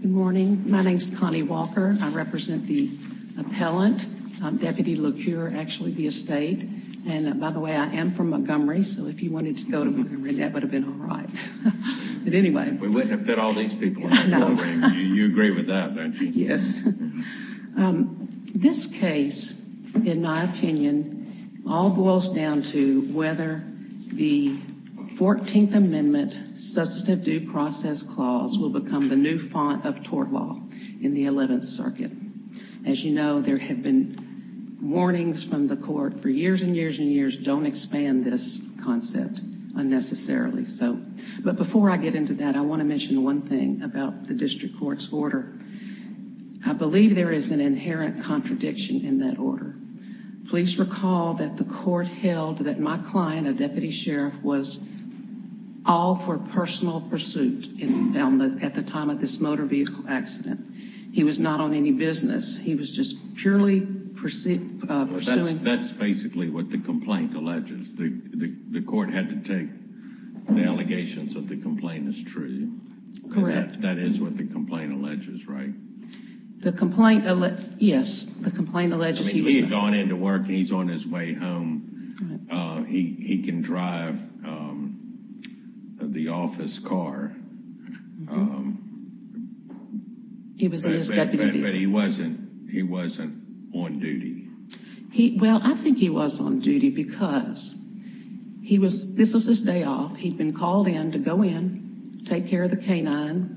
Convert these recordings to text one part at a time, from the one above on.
Good morning. My name is Connie Walker. I represent the appellant, Deputy Locure, actually the estate. And by the way, I am from Montgomery, so if you wanted to go to Montgomery, that would have been all right. But anyway. This case, in my opinion, all boils down to whether the 14th Amendment Substantive Due Process Clause will become the new font of tort law in the 11th Circuit. As you know, there have been warnings from the court for years and But before I get into that, I want to mention one thing about the district court's order. I believe there is an inherent contradiction in that order. Please recall that the court held that my client, a deputy sheriff, was all for personal pursuit at the time of this motor vehicle accident. He was not on any business. He was just purely pursuing. That's basically what the complaint alleges. The court had to take the allegations that the complaint is true. Correct. That is what the complaint alleges, right? Yes, the complaint alleges he was not. He had gone into work. He's on his way home. He can drive the office car. He was in his deputy vehicle. But he wasn't on duty. Well, I think he was on duty because this was his day off. He'd been called in to go in, take care of the canine,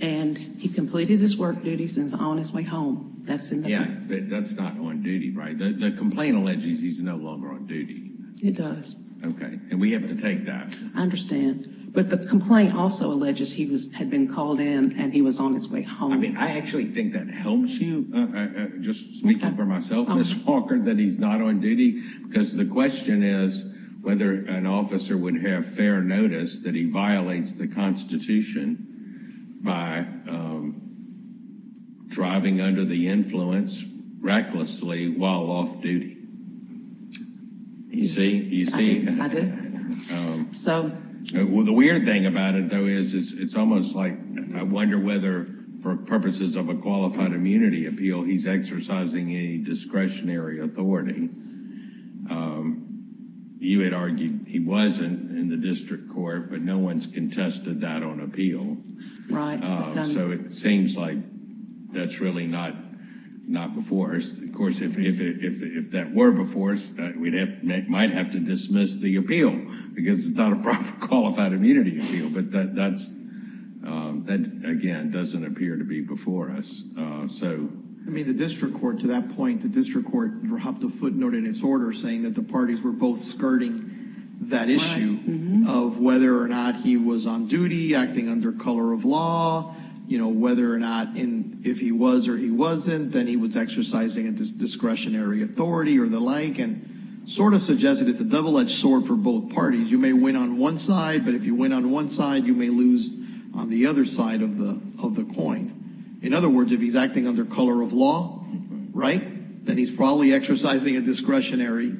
and he completed his work duties and is on his way home. Yeah, but that's not on duty, right? The complaint alleges he's no longer on duty. It does. And we have to take that. I understand. But the complaint also alleges he had been called in and he was on his way home. I mean, I actually think that helps you. Just speaking for myself, Ms. Walker, that he's not on duty because the question is whether an officer would have fair notice that he violates the The weird thing about it, though, is it's almost like I wonder whether for purposes of a qualified immunity appeal, he's exercising a discretionary authority. You had argued he wasn't in the district court, but no one's contested that on appeal. So it seems like that's really not before us. Of course, if that were before us, we might have to dismiss the appeal because it's not a proper qualified immunity appeal, but that again doesn't appear to be before us. I mean, the district court, to that point, the district court dropped a footnote in its order saying that the parties were both skirting that issue of whether or not he was on duty, acting under color of law, whether or not if he was or he wasn't, then he was exercising a discretionary authority or the like and sort of suggested it's a double edged sword for both parties. You may win on one side, but if you win on one side, you may lose on the other side of the of the coin. In other words, if he's acting under color of law, right, then he's probably exercising a discretionary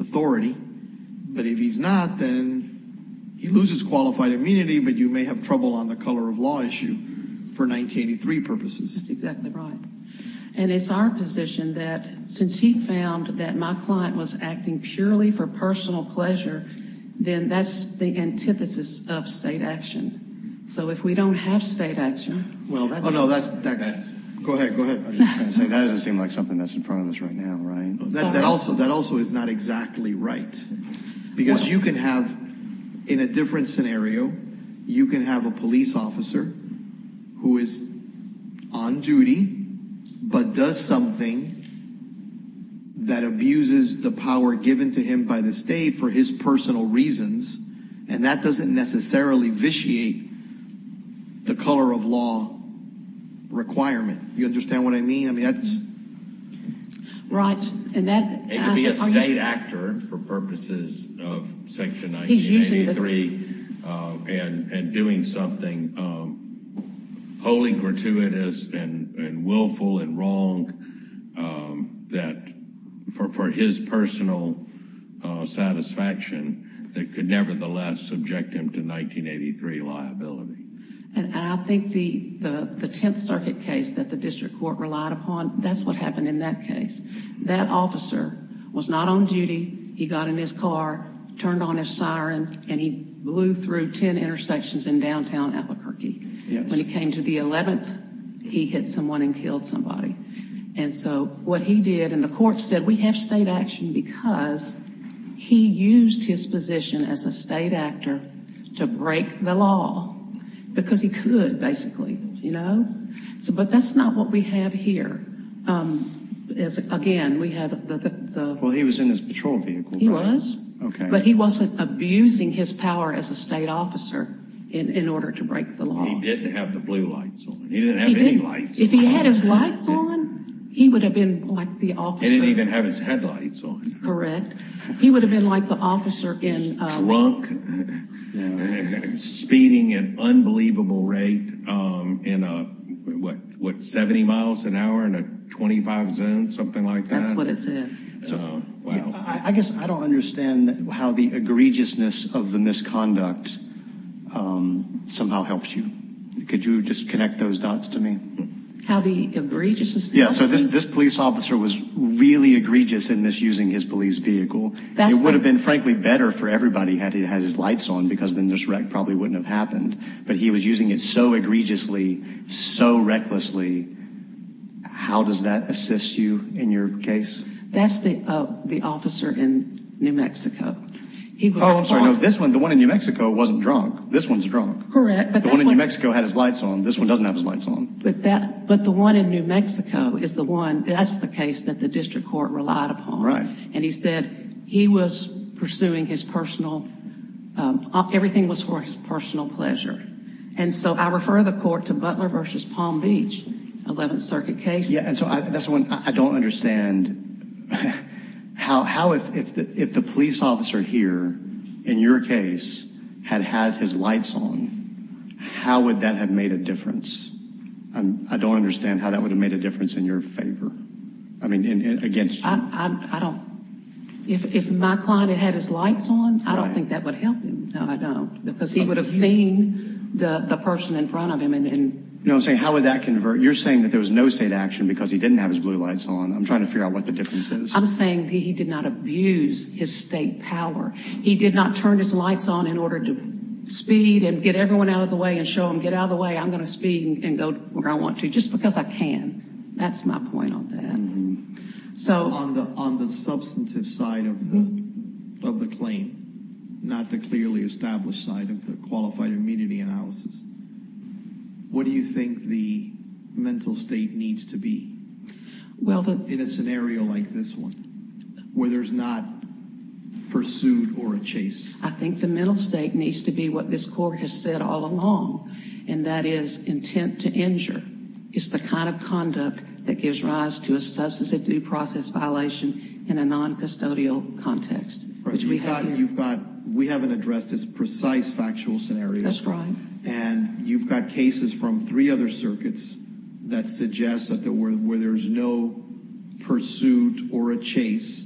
authority. But if he's not, then he loses qualified immunity. But you may have trouble on the of law issue for 1983 purposes. That's exactly right. And it's our position that since he found that my client was acting purely for personal pleasure, then that's the antithesis of state action. So if we don't have state action. Well, no, that's that's go ahead. Go ahead. That doesn't seem like something that's in front of us right now. Right. That also that also is not exactly right, because you can have in a different scenario, you can have a police officer who is on duty, but does something that abuses the power given to him by the state for his personal reasons. And that doesn't necessarily vitiate the color of law requirement. You understand what I for purposes of Section 1983 and doing something wholly gratuitous and willful and wrong that for his personal satisfaction that could nevertheless subject him to 1983 liability. And I think the Tenth Circuit case that the district court relied upon, that's what happened in that case. That officer was not on duty. He got in his car, turned on his siren, and he blew through 10 intersections in downtown Albuquerque. When he came to the 11th, he hit someone and killed somebody. And so what he did and the court said, we have state action because he used his position as a state actor to break the law because he could basically, you know, so but that's not what we have here. Again, we have the... Well, he was in his patrol vehicle. He was. Okay. But he wasn't abusing his power as a state officer in order to break the law. He didn't have the blue lights on. He didn't have any lights. If he had his lights on, he would have been like the officer. He didn't even have his headlights on. Correct. He would have been like the officer in... Drunk, you know, speeding an unbelievable rate in a, what, 70 miles an hour in a 25 zone, something like that. That's what it's in. So, wow. I guess I don't understand how the egregiousness of the misconduct somehow helps you. Could you just connect those dots to me? How the egregiousness? Yeah, so this police officer was really egregious in this using his police vehicle. It would have been, frankly, better for everybody had he had his lights on because then this wreck probably wouldn't have happened. But he was using it so egregiously, so recklessly. How does that assist you in your case? That's the officer in New Mexico. He was... Oh, I'm sorry. No, this one, the one in New Mexico wasn't drunk. This one's drunk. Correct. But the one in New Mexico had his lights on. This one doesn't have his lights on. But the one in New Mexico is the case that the district court relied upon. Right. And he said he was pursuing his personal, everything was for his personal pleasure. And so I refer the court to Butler v. Palm Beach, 11th Circuit case. Yeah, and so that's the one I don't understand. How, if the police officer here in your case had had his lights on, how would that have made a difference? I don't understand how that would have made a difference in your favor. I mean, against you. I don't. If my client had had his lights on, I don't think that would help him. No, I don't. Because he would have seen the person in front of him and... You know what I'm saying? How would that convert? You're saying that there was no state action because he didn't have his blue lights on. I'm trying to figure out what the difference is. I'm saying that he did not abuse his state power. He did not turn his lights on in order to speed and get everyone out of the way and show them, get out of the way, I'm going to speed and go where I want to just because I can. That's my point on that. So on the substantive side of the claim, not the clearly established side of the qualified immunity analysis, what do you think the mental state needs to be in a scenario like this one, where there's not pursuit or a chase? I think the mental state needs to be what this court has said all along, and that is intent to injure. It's the kind of conduct that gives rise to a substance of due process violation in a non-custodial context. We haven't addressed this precise factual scenario. That's right. And you've got cases from three other circuits that suggest where there's no pursuit or a chase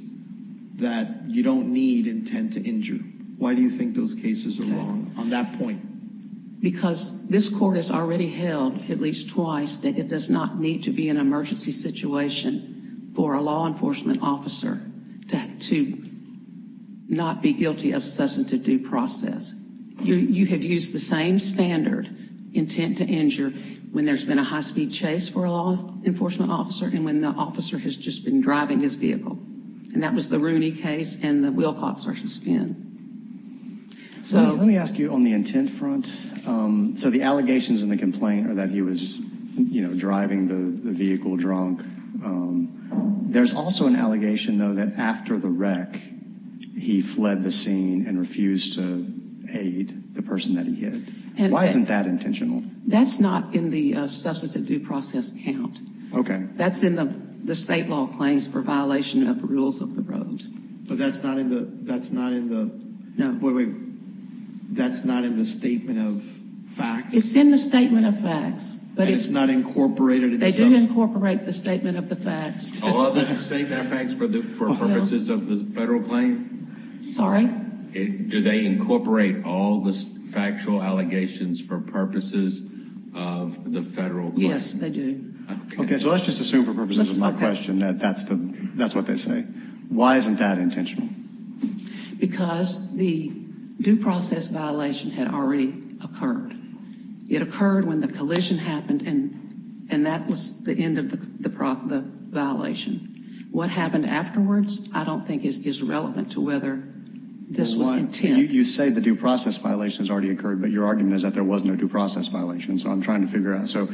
that you don't need intent to injure. Why do you think those cases are wrong on that point? Because this court has already held at least twice that it does not need to be an emergency situation for a law enforcement officer to not be guilty of substantive due process. You have used the same standard, intent to injure, when there's been a high-speed chase for a law enforcement officer and when the officer has just been driving his vehicle. And that was the Rooney case and the Wilcox versus Finn. So let me ask you on the intent front. So the allegations and the complaint are that he was you know driving the vehicle drunk. There's also an allegation though that after the wreck he fled the scene and refused to aid the person that he hit. Why isn't that intentional? That's not in the substantive due process count. Okay. That's in the the state law claims for violation of rules of the road. But that's not in the, that's not in the, no wait, that's not in the statement of facts? It's in the statement of facts. But it's not incorporated? They do incorporate the statement of the facts. All of the statement of facts for the purposes of the federal claim? Sorry? Do they incorporate all the factual allegations for purposes of the federal? Yes, they do. Okay. So let's just assume for purposes of my question that that's the, that's what they say. Why isn't that intentional? Because the due process violation had already occurred. It occurred when the collision happened and and that was the end of the violation. What happened afterwards I don't think is relevant to whether this was intent. You say the due process violation has already occurred but your argument is that there was no due process violation. So I'm trying to figure out. So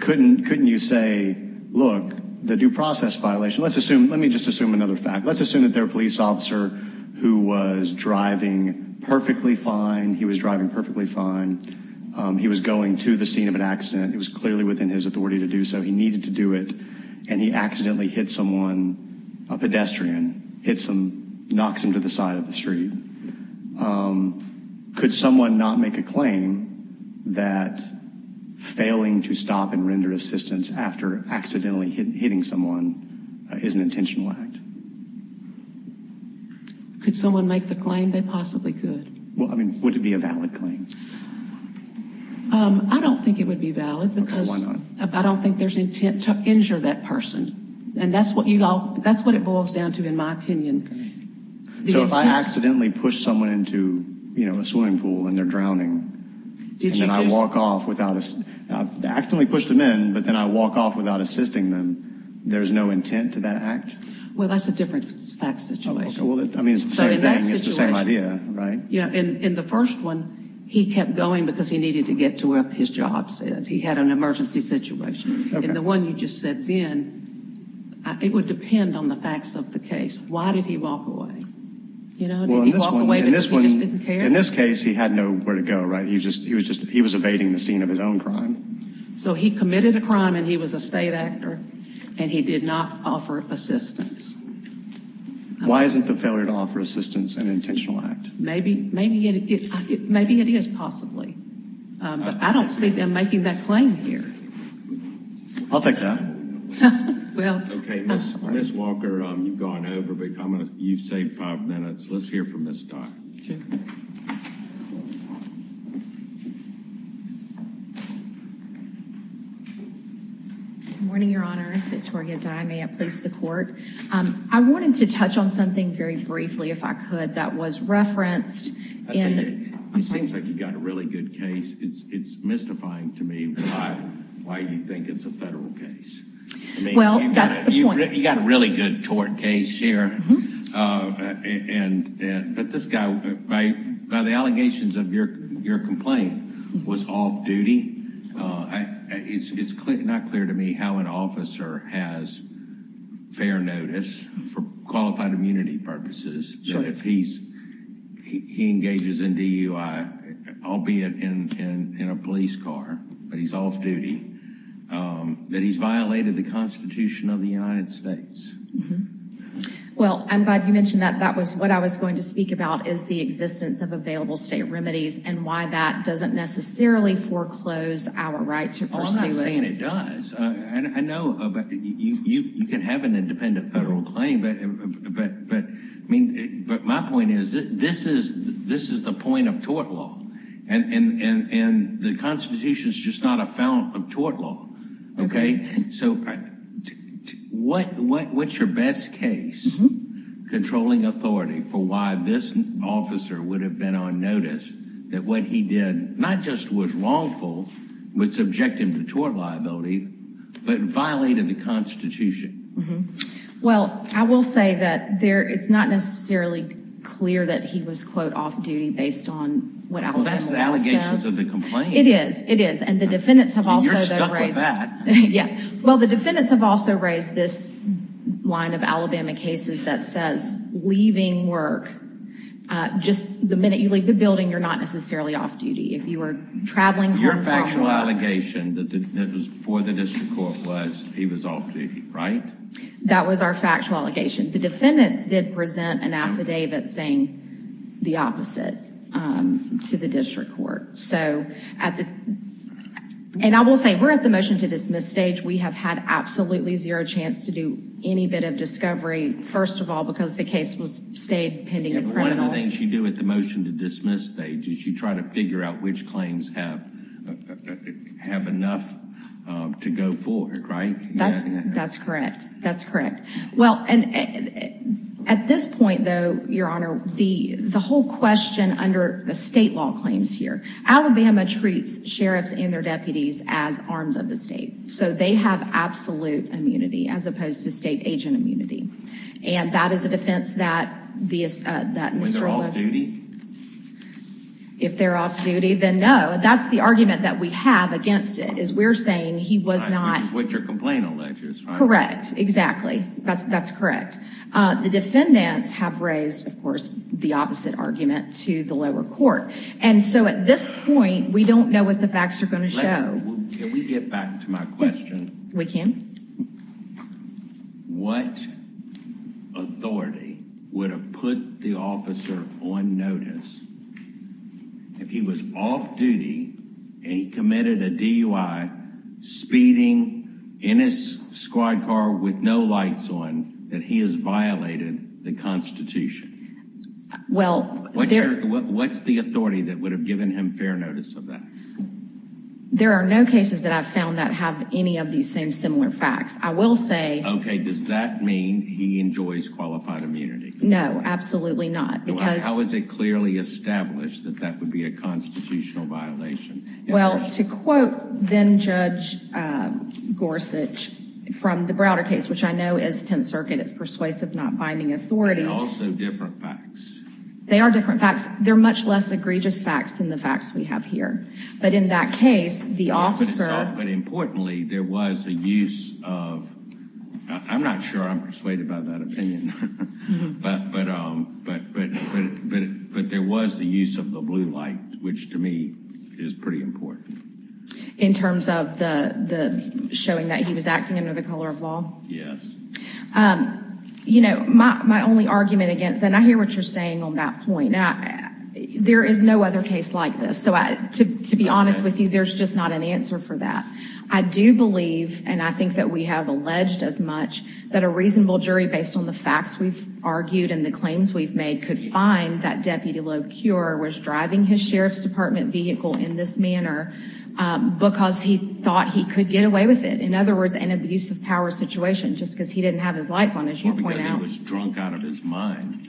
couldn't, couldn't you say look the due process violation, let's assume, let me just assume another fact, let's assume that their police officer who was driving perfectly fine, he was driving perfectly fine, he was going to the scene of an accident, it was clearly within his authority to do so, he needed to do it and he accidentally hit someone, a pedestrian, hit some, knocks him the side of the street. Could someone not make a claim that failing to stop and render assistance after accidentally hitting someone is an intentional act? Could someone make the claim? They possibly could. Well, I mean, would it be a valid claim? I don't think it would be valid because I don't think there's intent to injure that person and that's what you all, that's what it boils down to in my opinion. So if I accidentally push someone into, you know, a swimming pool and they're drowning and then I walk off without, I accidentally pushed them in but then I walk off without assisting them, there's no intent to that act? Well, that's a different fact situation. Well, I mean, it's the same thing, it's the same idea, right? Yeah, in the first one he kept going because he needed to get to where his job said. He had an emergency situation. In the one you just said then, it would depend on the facts of the case. Why did he walk away? You know, did he walk away because he just didn't care? In this case, he had nowhere to go, right? He was just, he was evading the scene of his own crime. So he committed a crime and he was a state actor and he did not offer assistance. Why isn't the failure to offer assistance an intentional act? Maybe it is possibly, but I don't see them making that claim here. I'll take that. Okay, Ms. Walker, you've gone over, but I'm going to, you've saved five minutes. Let's hear from Ms. Dye. Good morning, your honors. Victoria Dye, may it please the court. I wanted to touch on something very briefly, if I could, that was referenced. It seems like you got a really good case. It's mystifying to me why you think it's a federal case. Well, that's the point. You got a really good tort case here, but this guy, by the allegations of your complaint, was off duty. It's not clear to me how an officer has fair notice for qualified immunity purposes. So if he engages in DUI, albeit in a police car, but he's off duty, that he's violated the constitution of the United States. Well, I'm glad you mentioned that. That was what I was going to speak about is the existence of our right to pursue it. Well, I'm not saying it does. I know you can have an independent federal claim, but my point is, this is the point of tort law, and the constitution is just not a fount of tort law. Okay? So what's your best case controlling authority for why this officer would have been on notice that what he did, not just was wrongful, would subject him to tort liability, but violated the constitution? Well, I will say that it's not necessarily clear that he was, quote, off duty based on what Alabama said. Well, that's the allegations of the complaint. It is. It is. And the defendants have also raised... You're stuck with that. Yeah. Well, the defendants have also raised this line of Alabama cases that says, leaving work, just the minute you leave the building, you're not necessarily off duty. If you were traveling home... Your factual allegation that that was before the district court was, he was off duty, right? That was our factual allegation. The defendants did present an affidavit saying the opposite to the district court. So, and I will say, we're at the motion to dismiss stage. We have had absolutely zero chance to do any bit of discovery, first of all, because the case was stayed pending. One of the things you do at the motion to dismiss stage is you try to figure out which claims have enough to go forward, right? That's correct. That's correct. Well, and at this point, though, Your Honor, the whole question under the state law claims here, Alabama treats sheriffs and their deputies as arms of the state. So they have absolute immunity as opposed to state agent immunity. And that is a defense that... When they're off duty? If they're off duty, then no. That's the argument that we have against it, is we're saying he was not... Which is what your complaint alleges, right? Correct. Exactly. That's correct. The defendants have raised, of course, the opposite argument to the lower court. And so at this point, we don't know what the facts are going to show. Can we get back to my question? We can. What authority would have put the officer on notice if he was off duty and he committed a DUI speeding in his squad car with no lights on that he has violated the Constitution? Well... What's the authority that would have given him fair notice of that? There are no cases that I've found that have any of these same similar facts. I will say... Okay, does that mean he enjoys qualified immunity? No, absolutely not. Because... How is it clearly established that that would be a constitutional violation? Well, to quote then Judge Gorsuch from the Browder case, which I know is Tenth Circuit, it's persuasive not binding authority. They're also different facts. They are different facts. They're much less egregious facts than the facts we have here. But in that case, the officer... But importantly, there was a use of... I'm not sure I'm persuaded by that opinion. But there was the use of the blue light, which to me is pretty important. In terms of the showing that he was acting under the color of law? Yes. You know, my only argument against... And I hear what you're saying on that point. There is no other case like this. So to be honest with you, there's just not an answer for that. I do believe, and I think that we have alleged as much, that a reasonable jury based on the facts we've argued and the claims we've made could find that Deputy Locure was driving his Sheriff's Department vehicle in this manner because he thought he could get away with it. In other words, an abuse of power situation just because he didn't have his lights on, as you point out. Or because he was drunk out of his mind.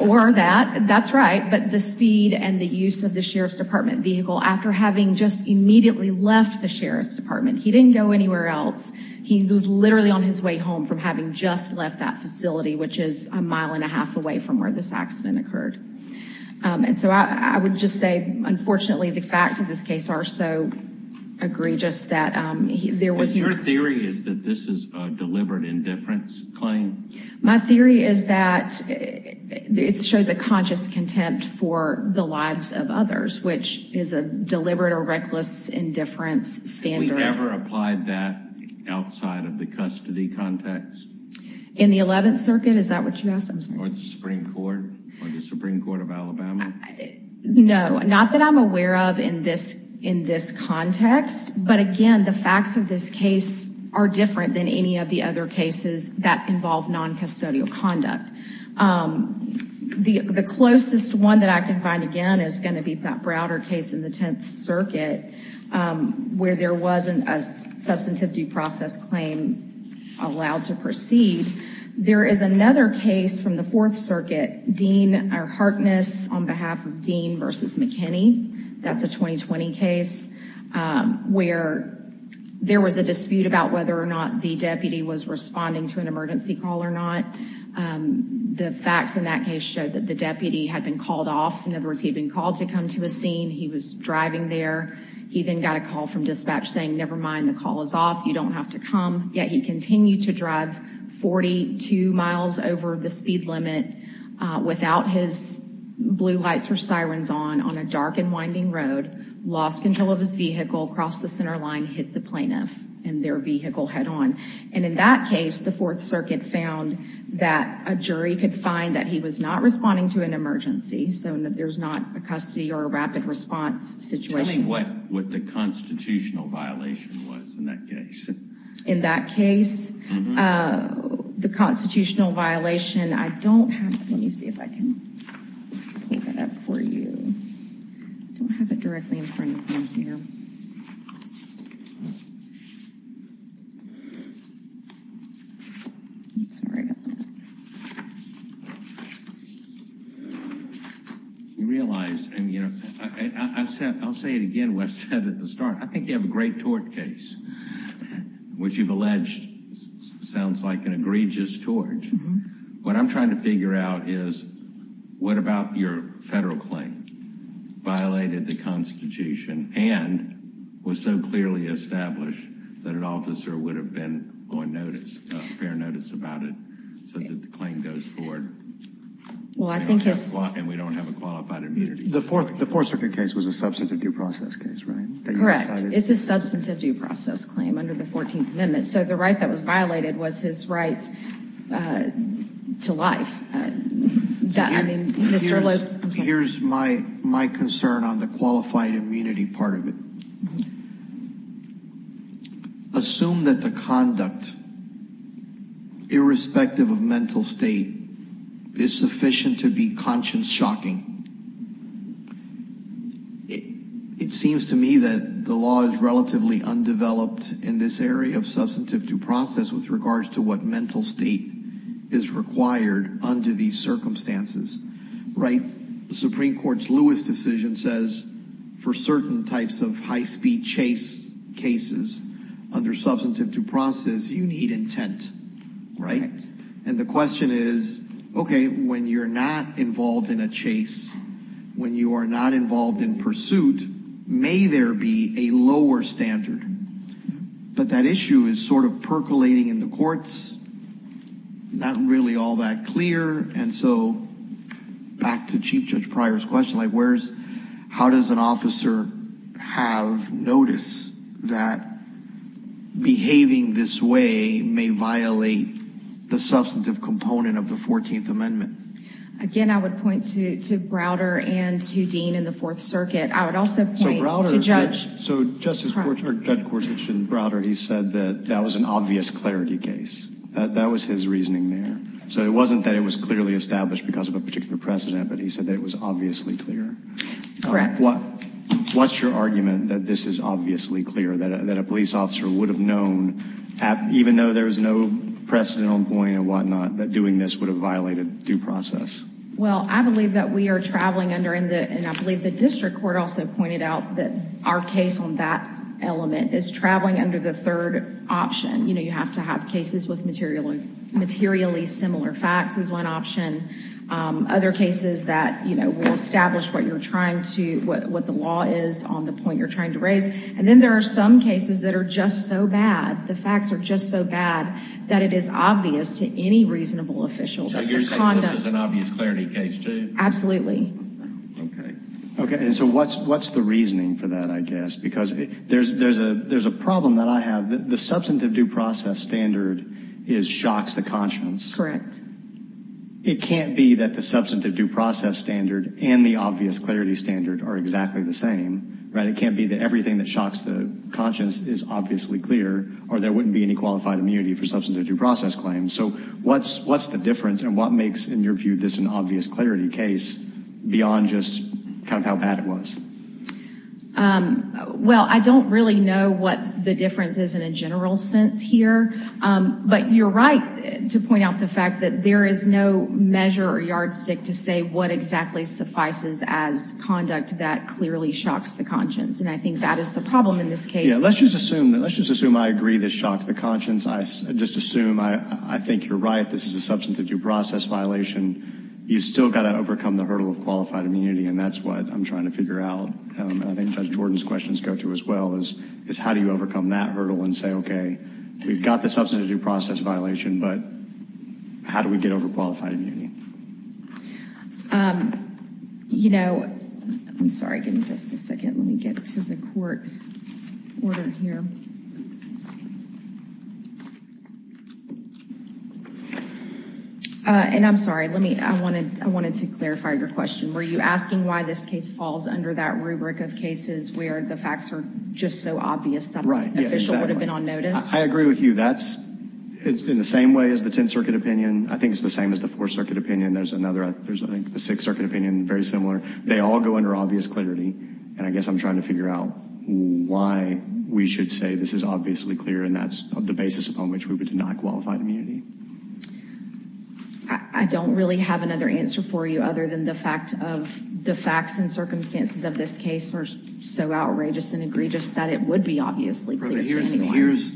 Or that. That's right. But the speed and the use of the Sheriff's Department vehicle after having just immediately left the Sheriff's Department. He didn't go anywhere else. He was literally on his way home from having just left that facility, which is a mile and a half away from where this accident occurred. And so I would just say, unfortunately, the facts of this case are so egregious that there was... Your theory is that this is a deliberate indifference claim? My theory is that it shows a conscious contempt for the lives of others, which is a deliberate or reckless indifference standard. Have we ever applied that outside of the custody context? In the 11th Circuit? Is that what you asked? No, not that I'm aware of in this context. But again, the facts of this case are different than any of the other cases that involve non-custodial conduct. The closest one that I can find, again, is going to be that Browder case in the 10th Circuit, where there wasn't a substantive due process claim allowed to proceed. There is another case from the 4th Circuit. Dean Harkness, on behalf of Dean v. McKinney. That's a 2020 case where there was a dispute about whether or not the deputy was responding to an emergency call or not. The facts in that case showed that the deputy had been called off. In other words, he had been called to come to a scene. He was driving there. He then got a call from dispatch saying, never mind, the call is off. You don't have to come. Yet he continued to drive 42 miles over the speed limit without his blue lights or sirens on, on a dark and winding road, lost control of his vehicle, crossed the center line, hit the plaintiff and their vehicle head-on. And in that case, the 4th Circuit found that a jury could find that he was not responding to an emergency, so that there's not a custody or a rapid response situation. Tell me what the constitutional violation was in that case. In that case, the constitutional violation, I don't have, let me see if I can pull that up for you. I don't have it directly in front of me here. You realize, and you know, I said, I'll say it again, what I said at the start, I think you have a great tort case, which you've alleged sounds like an egregious tort. What I'm trying to figure out is, what about your federal claim? Violated the Constitution and was so clearly established that an officer would have been on notice, fair notice about it, so that the claim goes forward. Well, I think it's... And we don't have a qualified immunity. The 4th Circuit case was a substantive due process case, right? Correct. It's a substantive due process claim under the 14th Amendment, so the right that was violated was his right to life. Here's my concern on the qualified immunity part of it. Assume that the conduct, irrespective of mental state, is sufficient to be conscience-shocking. It seems to me that the law is relatively undeveloped in this area of substantive due process with regards to what mental state is required under these circumstances, right? Supreme Court's Lewis decision says for certain types of high-speed chase cases, under substantive due process, you need intent, right? And the question is, okay, when you're not involved in a chase, when you are not involved in pursuit, may there be a lower standard? But that issue is sort of percolating in the courts, not really all that clear, and so back to Chief Judge Pryor's question, like where's... How does an officer have notice that behaving this way may violate the substantive component of the 14th Amendment? Again, I would point to Browder and to Dean in the Fourth Circuit. I would also point to Judge... So, Justice Court, or Judge Corsich and Browder, he said that that was an obvious clarity case. That was his reasoning there. So it wasn't that it was clearly established because of a particular precedent, but he said that it was obviously clear. Correct. What's your argument that this is obviously clear, that a police officer would have known, even though there was no precedent on point and whatnot, that doing this would have violated due process? Well, I believe that we are traveling under... And I believe the district court also pointed out that our case on that element is traveling under the third option. You have to have cases with materially similar facts as one option. Other cases that will establish what the law is on the point you're trying to raise. And then there are some cases that are just so bad, the facts are just so bad, that it is obvious to any reasonable official that their conduct... So you're saying this is an obvious clarity case too? Absolutely. Okay. And so what's the reasoning for that, I guess? Because there's a problem that I have. The substantive due process standard shocks the conscience. Correct. It can't be that the substantive due process standard and the obvious clarity standard are exactly the same, right? It can't be that everything that shocks the conscience is there wouldn't be any qualified immunity for substantive due process claims. So what's the difference and what makes, in your view, this an obvious clarity case beyond just kind of how bad it was? Well, I don't really know what the difference is in a general sense here. But you're right to point out the fact that there is no measure or yardstick to say what exactly suffices as conduct that clearly shocks the conscience. And I think that is the problem in this case. Let's just assume I agree this shocks the conscience. I just assume I think you're right. This is a substantive due process violation. You've still got to overcome the hurdle of qualified immunity. And that's what I'm trying to figure out. I think Judge Jordan's questions go to as well, is how do you overcome that hurdle and say, okay, we've got the substantive due process violation, but how do we get over qualified immunity? Okay. You know, I'm sorry, give me just a second. Let me get to the court order here. And I'm sorry, let me, I wanted to clarify your question. Were you asking why this case falls under that rubric of cases where the facts are just so obvious that an official would have been on notice? I agree with you. That's in the same way as the 10th Circuit opinion. I think it's the same as the Fourth Circuit opinion. There's another, there's I think the Sixth Circuit opinion, very similar. They all go under obvious clarity. And I guess I'm trying to figure out why we should say this is obviously clear and that's the basis upon which we would deny qualified immunity. I don't really have another answer for you other than the fact of the facts and circumstances of this case are so outrageous and egregious that it would be obviously clear to me. Here's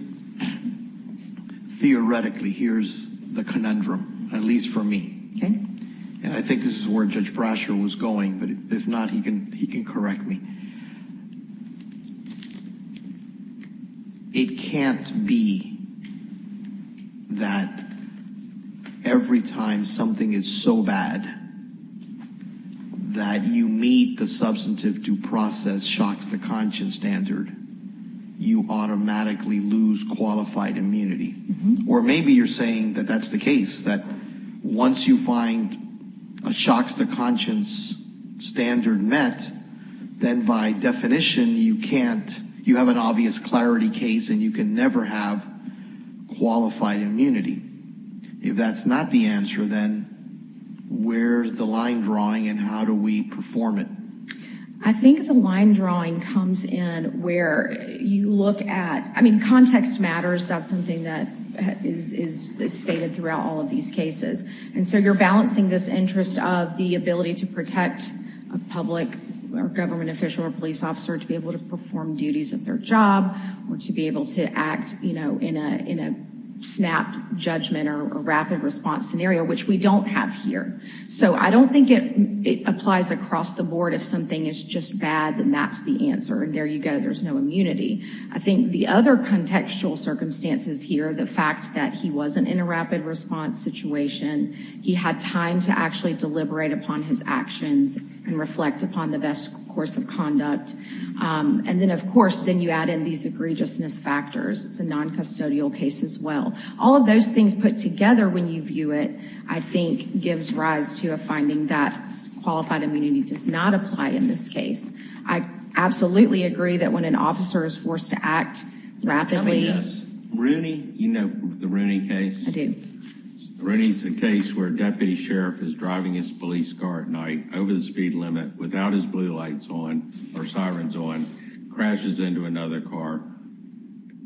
theoretically, here's the conundrum, at least for me. And I think this is where Judge Brasher was going, but if not, he can, he can correct me. It can't be that every time something is so bad that you meet the substantive due process shocks to conscience standard, you automatically lose qualified immunity. Or maybe you're saying that that's the case, that once you find a shocks to conscience standard met, then by definition you can't, you have an obvious clarity case and you can never have qualified immunity. If that's not the answer, then where's the line drawing and how do we perform it? I think the line drawing comes in where you look at, I mean, context matters. That's something that is stated throughout all of these cases. And so you're balancing this interest of the ability to protect a public or government official or police officer to be able to perform duties of their job or to be able to act, you know, in a snap judgment or rapid response scenario, which we don't have here. So I don't think it applies across the board. If something is just bad, then that's the answer. And there you go, there's no immunity. I think the other contextual circumstances here, the fact that he wasn't in a rapid response situation, he had time to actually deliberate upon his actions and reflect upon the best course of conduct. And then of course, then you add in these egregiousness factors. It's a non-custodial case as well. All of those things put together when you rise to a finding that qualified immunity does not apply in this case. I absolutely agree that when an officer is forced to act rapidly, Rooney, you know, the Rooney case, Rooney's the case where a deputy sheriff is driving his police car at night over the speed limit without his blue lights on or sirens on, crashes into another car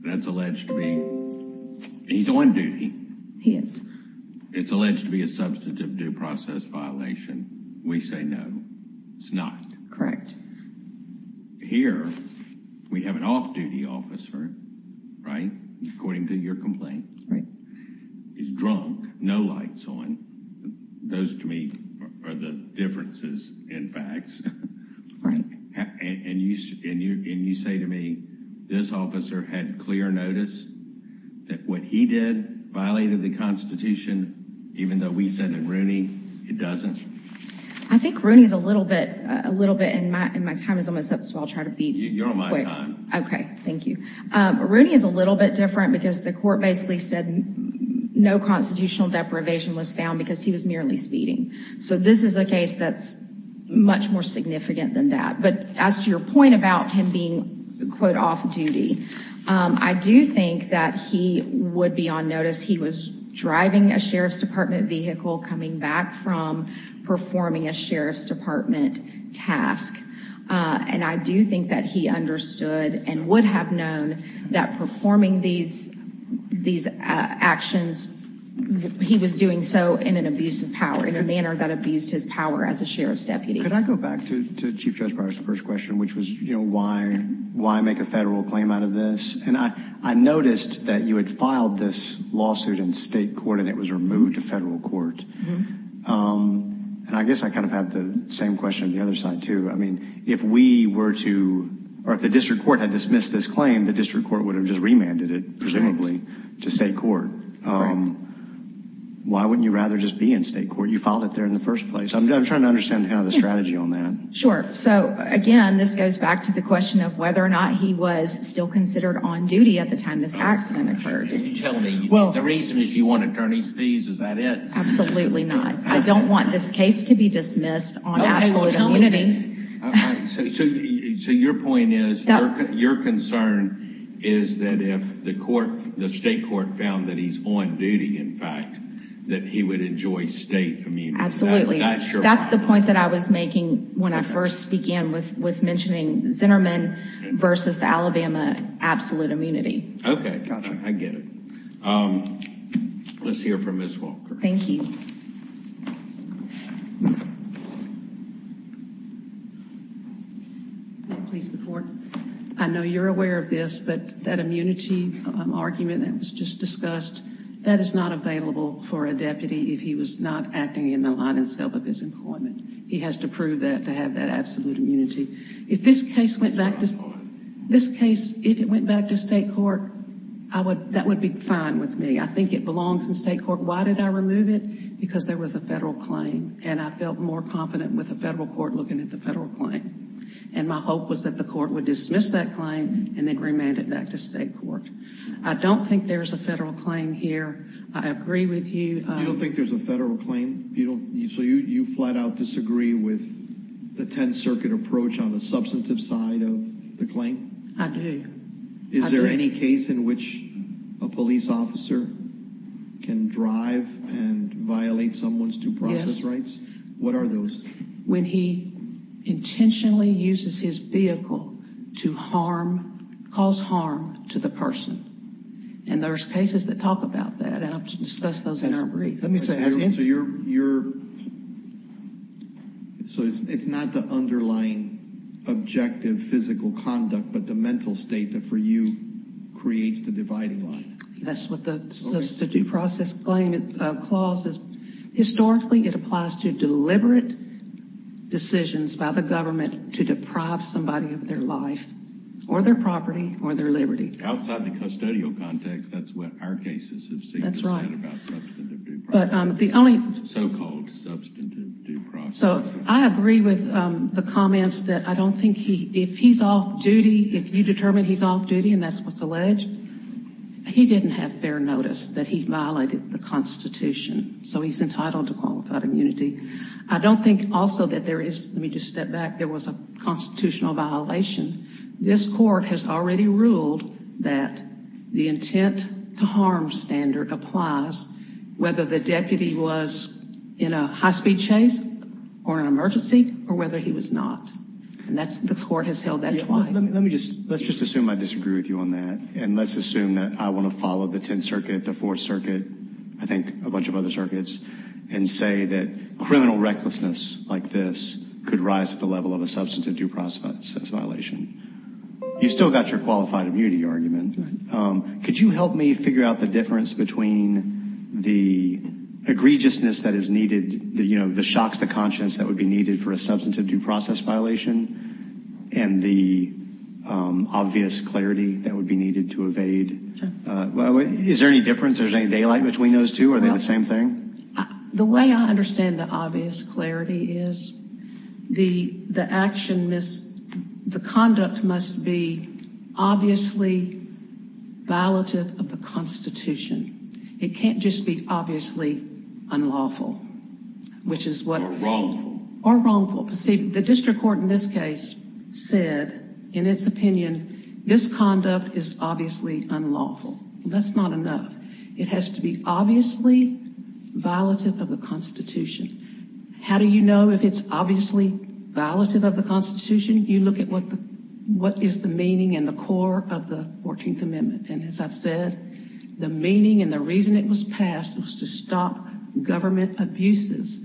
that's alleged to be, he's on duty. He is. It's alleged to be a substantive due process violation. We say no, it's not. Correct. Here we have an off-duty officer, right, according to your complaint. Right. He's drunk, no lights on. Those to me are the differences in facts. Right. And you say to me, this officer had clear notice that what he did violated the constitution, even though we said that Rooney, it doesn't. I think Rooney's a little bit, a little bit, and my time is almost up, so I'll try to be quick. You're on my time. Okay. Thank you. Rooney is a little bit different because the court basically said no constitutional deprivation was found because he was merely speeding. So this is a case that's much more significant than that. But as to your point about him being, quote, off-duty, I do think that he would be on notice. He was driving a sheriff's department vehicle coming back from performing a sheriff's department task. And I do think that he understood and would have known that performing these, these actions, he was doing so in an abuse of power, in a manner that abused his power as a sheriff's deputy. Could I go back to Chief Judge Byers' first question, which was, you know, why, why make a federal claim out of this? And I, I noticed that you had filed this lawsuit in state court and it was removed to federal court. And I guess I kind of have the same question on the other side too. I mean, if we were to, or if the district court had dismissed this claim, the district court would have just remanded it, presumably, to state court. Why wouldn't you rather just be in state court? You filed it there in the first place. I'm trying to understand kind of the strategy on that. Sure. So again, this goes back to the question of whether or not he was still considered on duty at the time this accident occurred. Well, the reason is you want attorney's fees. Is that it? Absolutely not. I don't want this case to be dismissed on absolute immunity. So your point is, your concern is that if the court, the state court found that he's on duty, in fact, that he would enjoy state immunity? Absolutely. That's the point that I was making when I first began with, with mentioning Zinnerman versus the Alabama absolute immunity. Okay. I get it. Let's hear from Ms. Walker. Thank you. May it please the court. I know you're aware of this, but that immunity argument that was just discussed, that is not available for a deputy if he was not acting in the line and scope of his employment. He has to prove that to have that absolute immunity. If this case went back to, this case, if it went back to state court, I would, that would be fine with me. I think it belongs in state court. Why did I remove it? Because there was a federal claim and I felt more confident with the federal court looking at the federal claim. And my hope was that the court would dismiss that claim and then remand it back to state court. I don't think there's a federal claim here. I agree with you. You don't think there's a federal claim? You don't, so you, you flat out disagree with the 10th circuit approach on the substantive side of the claim? I do. Is there any case in which a police officer can drive and violate someone's due process rights? What are those? When he intentionally uses his vehicle to harm, cause harm to the person. And there's cases that talk about that. And I've discussed those in our brief. Let me say, so you're, you're, so it's not the underlying objective physical conduct, but the mental state that for you creates the dividing line. That's what the substantive process claim clause is. Historically, it applies to deliberate decisions by the government to or their liberty. Outside the custodial context, that's what our cases have seen. That's right. But the only so-called substantive due process. So I agree with the comments that I don't think he, if he's off duty, if you determine he's off duty and that's what's alleged, he didn't have fair notice that he violated the constitution. So he's entitled to qualified immunity. I don't think also that there is, let me just step back. There was a constitutional violation. This court has already ruled that the intent to harm standard applies whether the deputy was in a high speed chase or an emergency or whether he was not. And that's the court has held that twice. Let me just, let's just assume I disagree with you on that. And let's assume that I want to follow the 10th circuit, the fourth circuit, I think a bunch of other circuits and say that criminal recklessness like this could rise to the level of a substantive due process violation. You still got your qualified immunity argument. Could you help me figure out the difference between the egregiousness that is needed, the shocks, the conscience that would be needed for a substantive due process violation and the obvious clarity that would be needed to evade? Is there any difference? There's any daylight between those two? Are they the same thing? The way I understand the obvious clarity is the action, the conduct must be obviously violative of the Constitution. It can't just be obviously unlawful, which is what, or wrongful. See, the district court in this case said in its opinion, this conduct is obviously unlawful. That's not enough. It has to be obviously violative of the Constitution. How do you know if it's obviously violative of the Constitution? You look at what the, what is the meaning and the core of the 14th Amendment. And as I've said, the meaning and the reason it was passed was to stop government abuses,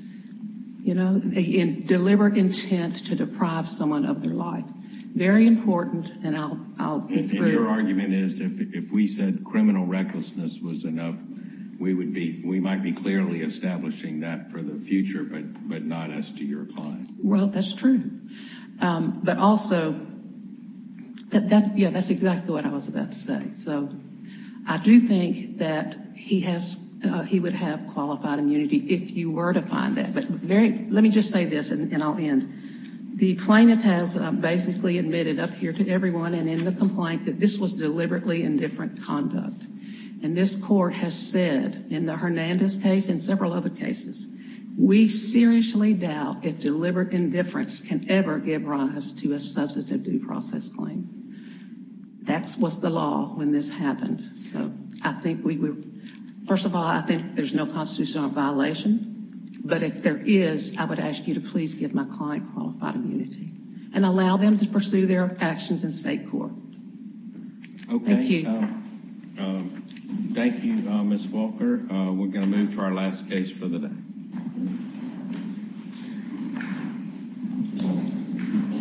you know, in deliberate intent to deprive someone of their life. Very important. And I'll be through. And your argument is if we said criminal recklessness was enough, we would be, we might be clearly establishing that for the future, but not as to your client. Well, that's true. But also that, yeah, that's exactly what I was about to say. So I do think that he has, he would have qualified immunity if you were to find that. But very, let me just say this and I'll end. The plaintiff has basically admitted up here to everyone and in the complaint that this was deliberately indifferent conduct. And this court has said in the Hernandez case and several other cases, we seriously doubt if deliberate indifference can ever give rise to a substantive due process claim. That was the law when this happened. So I think first of all, I think there's no constitutional violation, but if there is, I would ask you to please give my client qualified immunity and allow them to pursue their actions in state court. Okay. Thank you, Ms. Walker. We're going to move to our last case for the day.